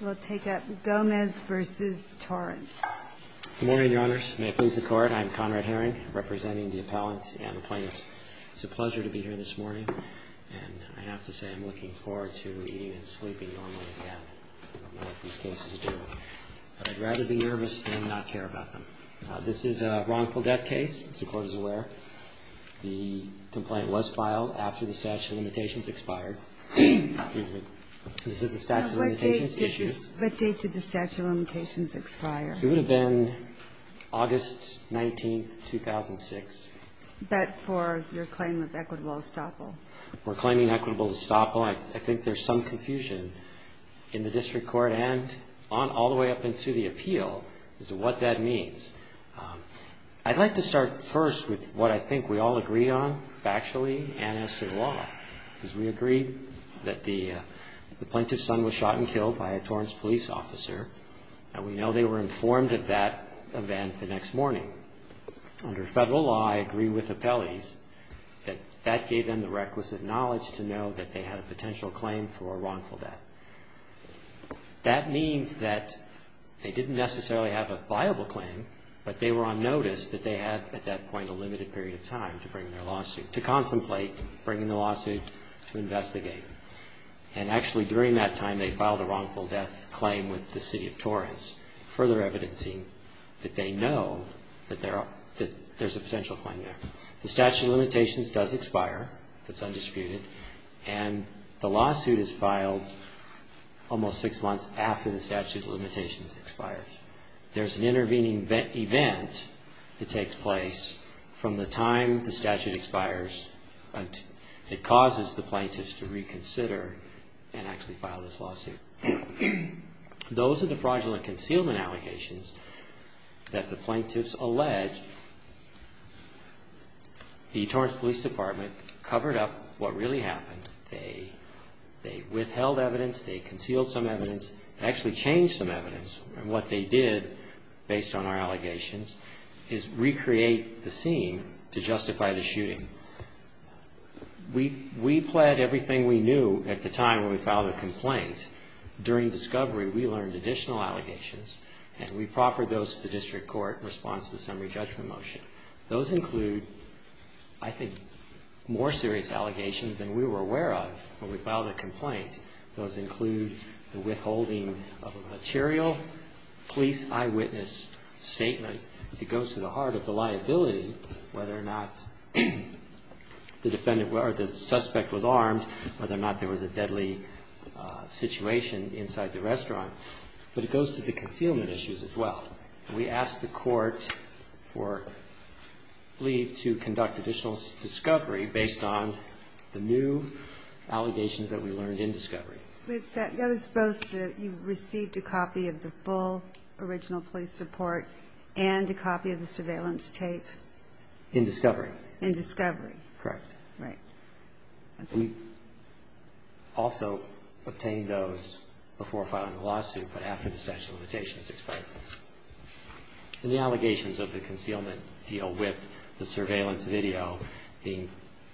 We'll take up Gomez v. Torrance. Good morning, Your Honors. May it please the Court, I'm Conrad Herring, representing the appellants and the plaintiffs. It's a pleasure to be here this morning, and I have to say I'm looking forward to eating and sleeping normally again. I don't know what these cases are doing, but I'd rather be nervous than not care about them. This is a wrongful death case, as the Court is aware. The complaint was filed after the statute of limitations expired. Excuse me. Is this a statute of limitations issue? What date did the statute of limitations expire? It would have been August 19, 2006. But for your claim of equitable estoppel? For claiming equitable estoppel, I think there's some confusion in the district court and all the way up into the appeal as to what that means. I'd like to start first with what I think we all agreed on factually and as to the law, because we agreed that the plaintiff's son was shot and killed by a Torrance police officer, and we know they were informed of that event the next morning. Under federal law, I agree with appellees that that gave them the requisite knowledge to know that they had a potential claim for a wrongful death. That means that they didn't necessarily have a viable claim, but they were on notice that they had at that point a limited period of time to bring their lawsuit, to contemplate bringing the lawsuit to investigate. And actually, during that time, they filed a wrongful death claim with the city of Torrance, further evidencing that they know that there's a potential claim there. The statute of limitations does expire. It's undisputed. And the lawsuit is filed almost six months after the statute of limitations expires. There's an intervening event that takes place from the time the statute expires. It causes the plaintiffs to reconsider and actually file this lawsuit. Those are the fraudulent concealment allegations that the plaintiffs allege. The Torrance Police Department covered up what really happened. They withheld evidence. They concealed some evidence. They actually changed some evidence. And what they did, based on our allegations, is recreate the scene to justify the shooting. We pled everything we knew at the time when we filed the complaint. During discovery, we learned additional allegations, and we proffered those to the district court in response to the summary judgment motion. Those include, I think, more serious allegations than we were aware of when we filed a complaint. Those include the withholding of a material police eyewitness statement. It goes to the heart of the liability, whether or not the defendant or the suspect was armed, whether or not there was a deadly situation inside the restaurant. But it goes to the concealment issues as well. We asked the court for leave to conduct additional discovery based on the new allegations that we learned in discovery. That is both the you received a copy of the full original police report and a copy of the surveillance tape? In discovery. In discovery. Correct. Right. We also obtained those before filing the lawsuit, but after the statute of limitations expired. And the allegations of the concealment deal with the surveillance video being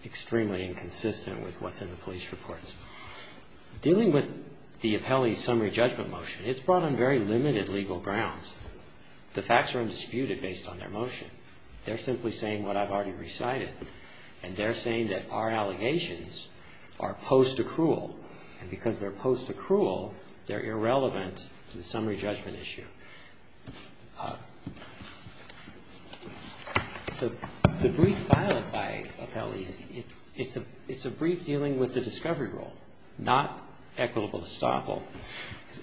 extremely inconsistent with what's in the police reports. Dealing with the appellee's summary judgment motion, it's brought on very limited legal grounds. The facts are undisputed based on their motion. They're simply saying what I've already recited. And they're saying that our allegations are post-accrual. And because they're post-accrual, they're irrelevant to the summary judgment issue. The brief filing by appellees, it's a brief dealing with the discovery rule, not equitable estoppel.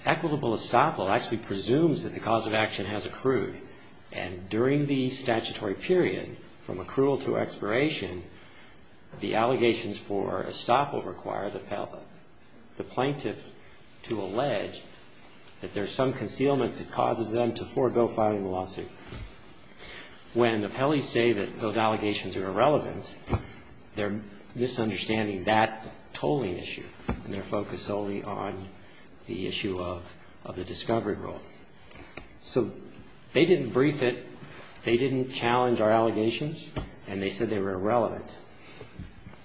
Equitable estoppel actually presumes that the cause of action has accrued. And during the statutory period, from accrual to expiration, the allegations for estoppel require the appellee, the plaintiff, to allege that there's some concealment that causes them to forego filing the lawsuit. When appellees say that those allegations are irrelevant, they're misunderstanding that tolling issue, and they're focused solely on the issue of the discovery rule. So they didn't brief it. They didn't challenge our allegations. And they said they were irrelevant.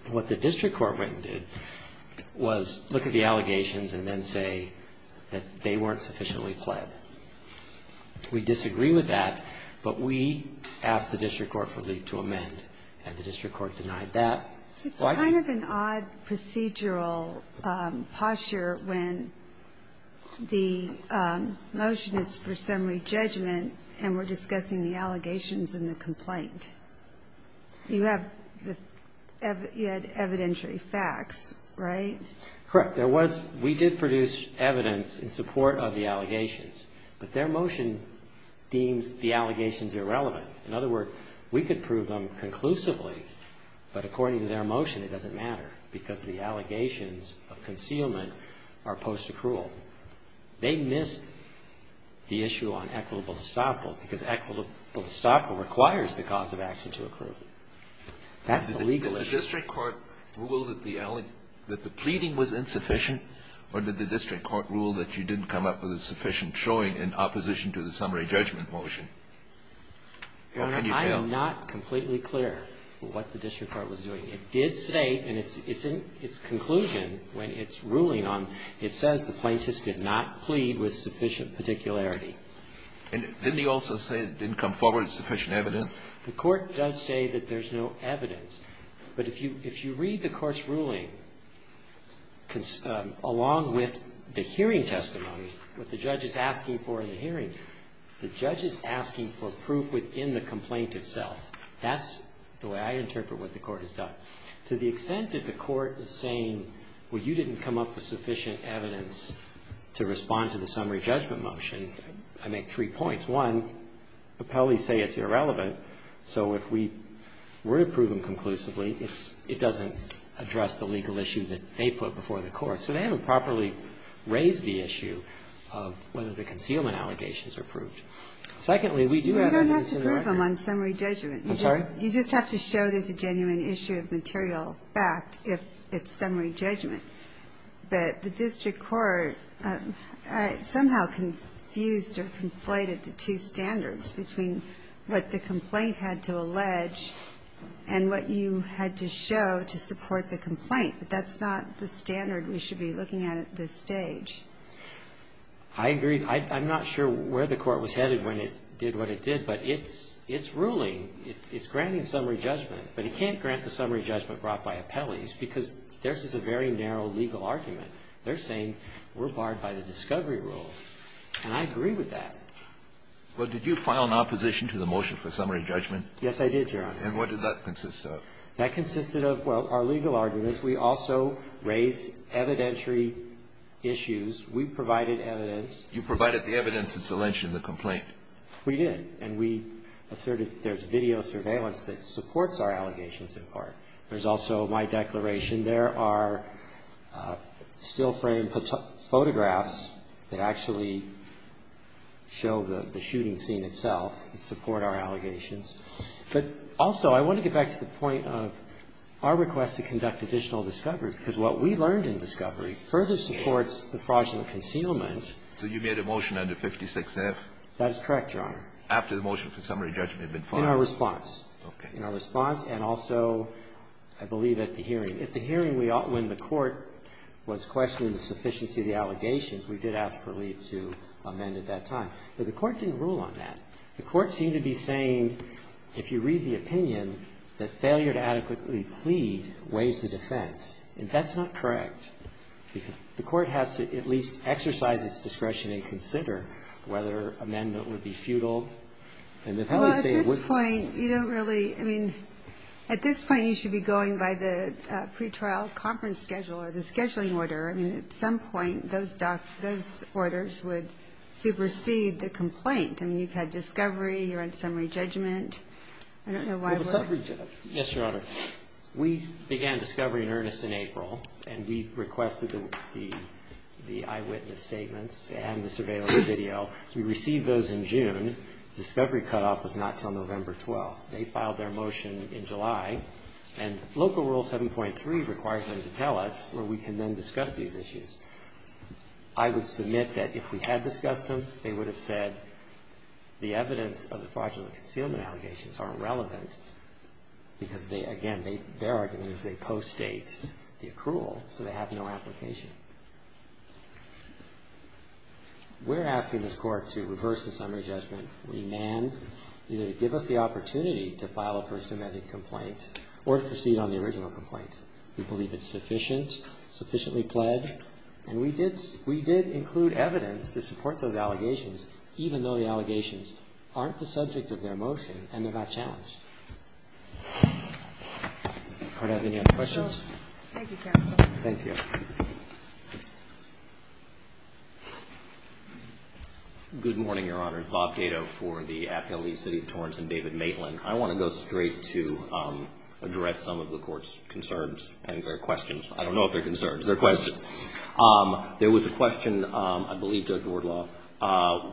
What the district court went and did was look at the allegations and then say that they weren't sufficiently pled. We disagree with that. But we asked the district court to amend, and the district court denied that. Ginsburg. It's kind of an odd procedural posture when the motion is for summary judgment and we're discussing the allegations in the complaint. You have the evidentiary facts, right? Correct. There was we did produce evidence in support of the allegations, but their motion deems the allegations irrelevant. In other words, we could prove them conclusively, but according to their motion, it doesn't matter because the allegations of concealment are post-accrual. They missed the issue on equitable estoppel because equitable estoppel requires the cause of action to accrue. That's the legal issue. Did the district court rule that the pleading was insufficient, or did the district court rule that you didn't come up with a sufficient showing in opposition to the summary judgment motion? What can you tell? Your Honor, I'm not completely clear what the district court was doing. It did state, and it's in its conclusion when it's ruling on, it says the plaintiff did not plead with sufficient particularity. And didn't he also say it didn't come forward with sufficient evidence? The Court does say that there's no evidence. But if you read the Court's ruling, along with the hearing testimony, what the judge is asking for in the hearing, the judge is asking for proof within the complaint itself. That's the way I interpret what the Court has done. To the extent that the Court is saying, well, you didn't come up with sufficient evidence to respond to the summary judgment motion, I make three points. One, appellees say it's irrelevant, so if we were to prove them conclusively, it's – it doesn't address the legal issue that they put before the Court. So they haven't properly raised the issue of whether the concealment allegations are proved. Secondly, we do have evidence in the record. You don't have to prove them on summary judgment. I'm sorry? You just have to show there's a genuine issue of material fact if it's summary judgment. But the district court somehow confused or conflated the two standards between what the complaint had to allege and what you had to show to support the complaint. But that's not the standard we should be looking at at this stage. I agree. I'm not sure where the Court was headed when it did what it did, but it's ruling. It's granting summary judgment. But it can't grant the summary judgment brought by appellees because theirs is a very narrow legal argument. They're saying we're barred by the discovery rule. And I agree with that. Well, did you file an opposition to the motion for summary judgment? Yes, I did, Your Honor. And what did that consist of? That consisted of, well, our legal arguments. We also raised evidentiary issues. We provided evidence. You provided the evidence. It's alleged in the complaint. We did. And we asserted there's video surveillance that supports our allegations in part. There's also my declaration. There are still framed photographs that actually show the shooting scene itself that support our allegations. But also, I want to get back to the point of our request to conduct additional discovery, because what we learned in discovery further supports the fraudulent concealment. So you made a motion under 56F? That is correct, Your Honor. After the motion for summary judgment had been filed? In our response. Okay. In our response and also, I believe, at the hearing. At the hearing, when the Court was questioning the sufficiency of the allegations, we did ask for leave to amend at that time. But the Court didn't rule on that. The Court seemed to be saying, if you read the opinion, that failure to adequately plead weighs the defense. And that's not correct, because the Court has to at least exercise its discretion and consider whether amendment would be futile. And if they say it wouldn't. Well, at this point, you don't really. I mean, at this point, you should be going by the pretrial conference schedule or the scheduling order. I mean, at some point, those orders would supersede the complaint. I mean, you've had discovery. You're on summary judgment. I don't know why. The summary judgment. Yes, Your Honor. We began discovery in earnest in April. And we requested the eyewitness statements and the surveillance video. We received those in June. Discovery cutoff was not until November 12th. They filed their motion in July. And Local Rule 7.3 requires them to tell us where we can then discuss these issues. I would submit that if we had discussed them, they would have said the evidence of the fraudulent concealment allegations aren't relevant, because they, again, their argument is they post-date the accrual, so they have no application. We're asking this Court to reverse the summary judgment. We demand either to give us the opportunity to file a First Amendment complaint or to proceed on the original complaint. We believe it's sufficient, sufficiently pledged. And we did include evidence to support those allegations, even though the allegations aren't the subject of their motion and they're not challenged. Does the Court have any other questions? Thank you, counsel. Thank you. Good morning, Your Honors. Bob Dado for the Appeal of the City of Torrance and David Maitland. I want to go straight to address some of the Court's concerns and questions. I don't know if they're concerns. They're questions. There was a question, I believe, Judge Wardlaw,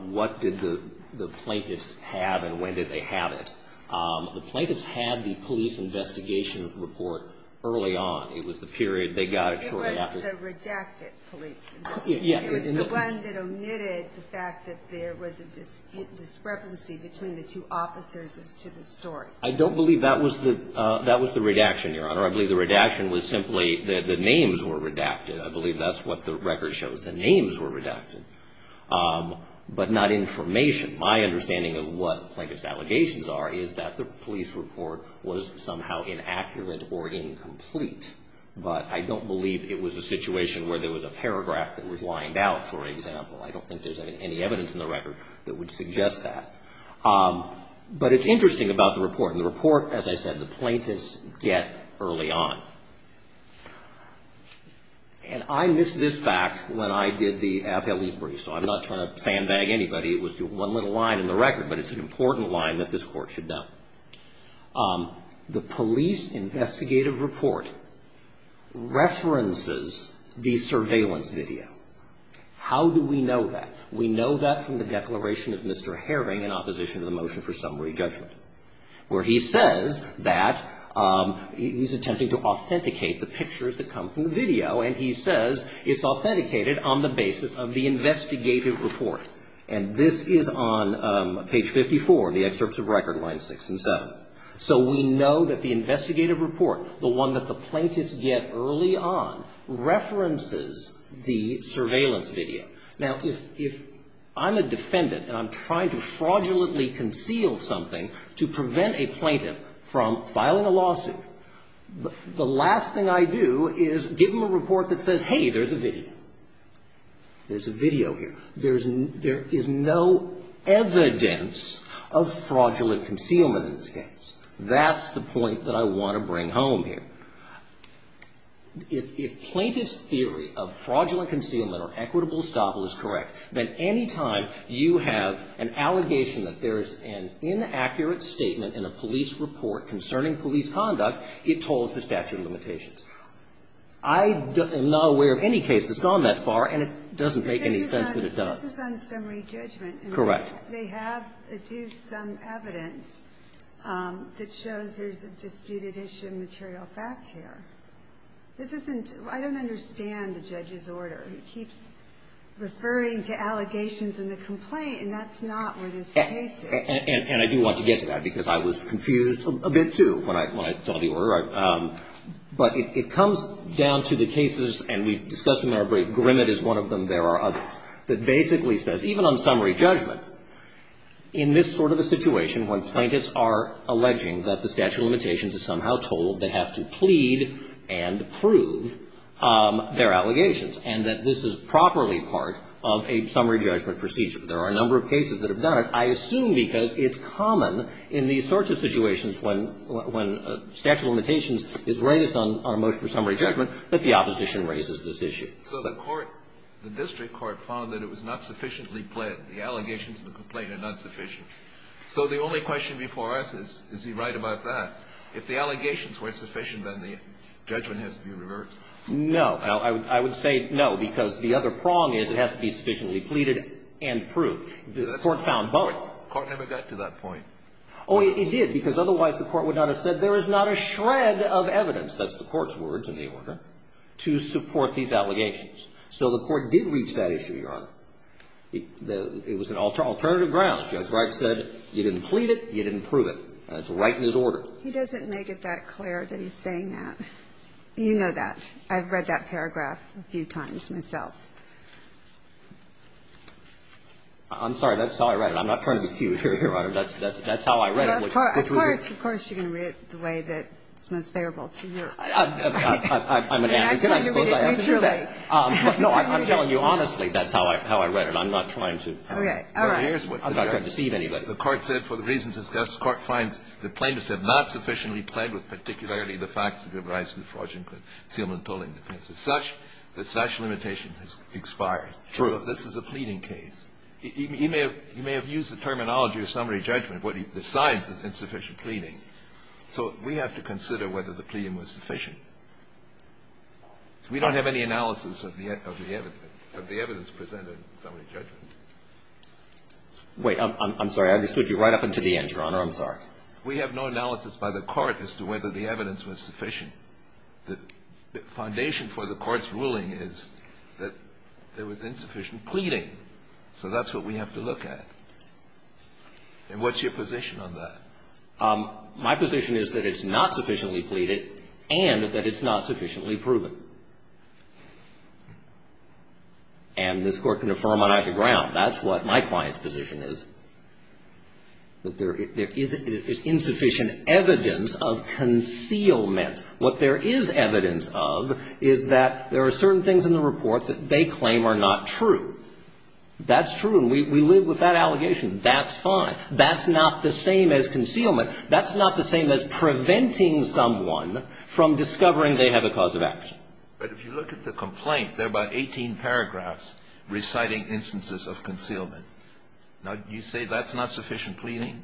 what did the plaintiffs have and when did they have it? The plaintiffs had the police investigation report early on. It was the period they got it shortly after. It was the redacted police investigation. It was the one that omitted the fact that there was a discrepancy between the two officers to the story. I don't believe that was the redaction, Your Honor. I believe the redaction was simply that the names were redacted. I believe that's what the record shows. The names were redacted, but not information. My understanding of what plaintiffs' allegations are is that the police report was somehow inaccurate or incomplete, but I don't believe it was a situation where there was a paragraph that was lined out, for example. I don't think there's any evidence in the record that would suggest that. But it's interesting about the report. In the report, as I said, the plaintiffs get early on. And I missed this fact when I did the appellee's brief, so I'm not trying to sandbag anybody. It was one little line in the record, but it's an important line that this Court should know. The police investigative report references the surveillance video. How do we know that? We know that from the declaration of Mr. Herring in opposition to the motion for summary judgment, where he says that he's attempting to authenticate the pictures that come from the video, and he says it's authenticated on the basis of the investigative report. And this is on page 54 in the excerpts of record, lines 6 and 7. So we know that the investigative report, the one that the plaintiffs get early on, references the surveillance video. Now, if I'm a defendant and I'm trying to fraudulently conceal something to prevent a plaintiff from filing a lawsuit, the last thing I do is give them a report that says, hey, there's a video. There's a video here. There is no evidence of fraudulent concealment in this case. That's the point that I want to bring home here. If plaintiff's theory of fraudulent concealment or equitable estoppel is correct, then any time you have an allegation that there is an inaccurate statement in a police report concerning police conduct, it tolls the statute of limitations. I am not aware of any case that's gone that far, and it doesn't make any sense that it does. This is on summary judgment. Correct. They have to do some evidence that shows there's a disputed issue of material fact here. This isn't – I don't understand the judge's order. He keeps referring to allegations in the complaint, and that's not where this case is. And I do want to get to that, because I was confused a bit, too, when I saw the order. But it comes down to the cases, and we've discussed them in our brief. Grimmett is one of them. There are others. There's another case that basically says, even on summary judgment, in this sort of a situation when plaintiffs are alleging that the statute of limitations is somehow told, they have to plead and prove their allegations, and that this is properly part of a summary judgment procedure. There are a number of cases that have done it, I assume because it's common in these sorts of situations when statute of limitations is raised on a motion for summary judgment that the opposition raises this issue. So the court, the district court, found that it was not sufficiently plead. The allegations in the complaint are not sufficient. So the only question before us is, is he right about that? If the allegations were sufficient, then the judgment has to be reversed. No. I would say no, because the other prong is it has to be sufficiently pleaded and proved. The court found both. The court never got to that point. Oh, it did, because otherwise the court would not have said there is not a shred of evidence to support these allegations. So the court did reach that issue, Your Honor. It was an alternative grounds. Judge Wright said you didn't plead it, you didn't prove it. That's right in his order. He doesn't make it that clear that he's saying that. You know that. I've read that paragraph a few times myself. I'm sorry. That's how I read it. I'm not trying to be cute here, Your Honor. That's how I read it. Of course, of course, you're going to read it the way that's most favorable to you. I'm an advocate, I suppose I have to do that. No, I'm telling you honestly, that's how I read it. I'm not trying to deceive anybody. The court said, for the reasons discussed, the court finds the plaintiffs have not sufficiently pled with particularly the facts that give rise to the fraudulent concealment and tolling defense. It's such that such limitation has expired. True. This is a pleading case. You may have used the terminology of summary judgment. What he decides is insufficient pleading. So we have to consider whether the pleading was sufficient. We don't have any analysis of the evidence presented in summary judgment. Wait. I'm sorry. I understood you right up until the end, Your Honor. I'm sorry. We have no analysis by the court as to whether the evidence was sufficient. The foundation for the court's ruling is that there was insufficient pleading. So that's what we have to look at. And what's your position on that? My position is that it's not sufficiently pleaded and that it's not sufficiently proven. And this Court can affirm on either ground. That's what my client's position is, that there is insufficient evidence of concealment. What there is evidence of is that there are certain things in the report that they claim are not true. That's true. And we live with that allegation. That's fine. That's not the same as concealment. That's not the same as preventing someone from discovering they have a cause of action. But if you look at the complaint, there are about 18 paragraphs reciting instances of concealment. Now, do you say that's not sufficient pleading?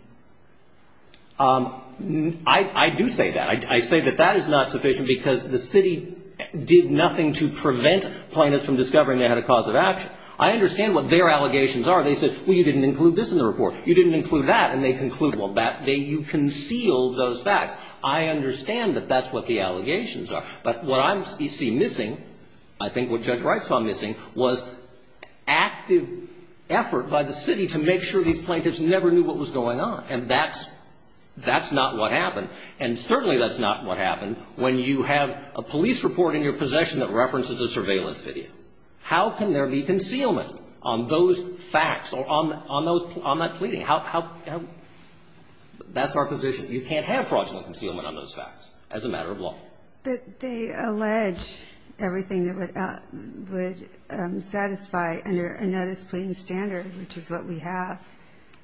I do say that. I say that that is not sufficient because the city did nothing to prevent plaintiffs from discovering they had a cause of action. I understand what their allegations are. They said, well, you didn't include this in the report. You didn't include that. And they conclude, well, you concealed those facts. I understand that that's what the allegations are. But what I see missing, I think what Judge Wright saw missing, was active effort by the city to make sure these plaintiffs never knew what was going on. And that's not what happened. And certainly that's not what happened when you have a police report in your possession that references a surveillance video. How can there be concealment on those facts or on that pleading? That's our position. You can't have fraudulent concealment on those facts as a matter of law. But they allege everything that would satisfy under a notice pleading standard, which is what we have,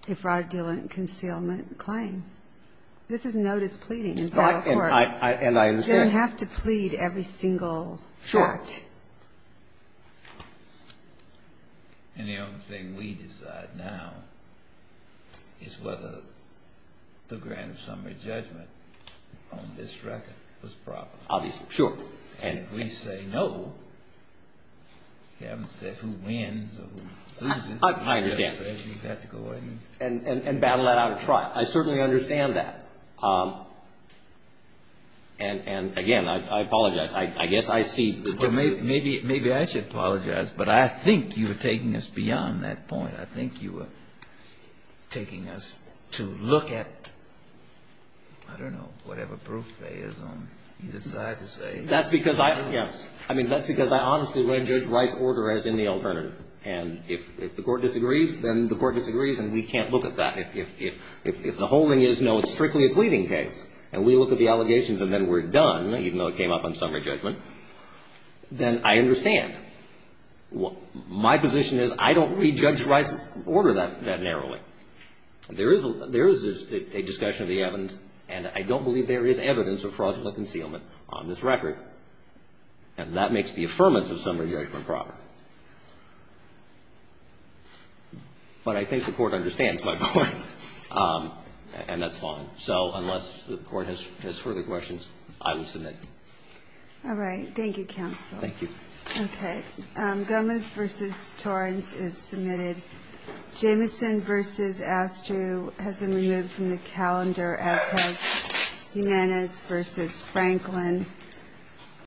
a fraudulent concealment claim. This is notice pleading in federal court. And I understand. You don't have to plead every single fact. Sure. And the only thing we decide now is whether the grand summary judgment on this record was proper. Obviously. Sure. And if we say no, you haven't said who wins or who loses. I understand. And battle that out in trial. I certainly understand that. And, again, I apologize. I guess I see. Maybe I should apologize. But I think you were taking us beyond that point. I think you were taking us to look at, I don't know, whatever proof there is on either side to say. That's because I honestly would judge Wright's order as in the alternative. And if the court disagrees, then the court disagrees. And we can't look at that. If the holding is no, it's strictly a pleading case, and we look at the allegations and then we're done, even though it came up on summary judgment, then I understand. My position is I don't read Judge Wright's order that narrowly. There is a discussion of the evidence, and I don't believe there is evidence of fraudulent concealment on this record. And that makes the affirmance of summary judgment proper. But I think the court understands my point, and that's fine. So unless the court has further questions, I will submit. All right. Thank you, counsel. Thank you. Okay. Gomez v. Torrance is submitted. Jamison v. Astru has been removed from the calendar, as has Jimenez v. Franklin.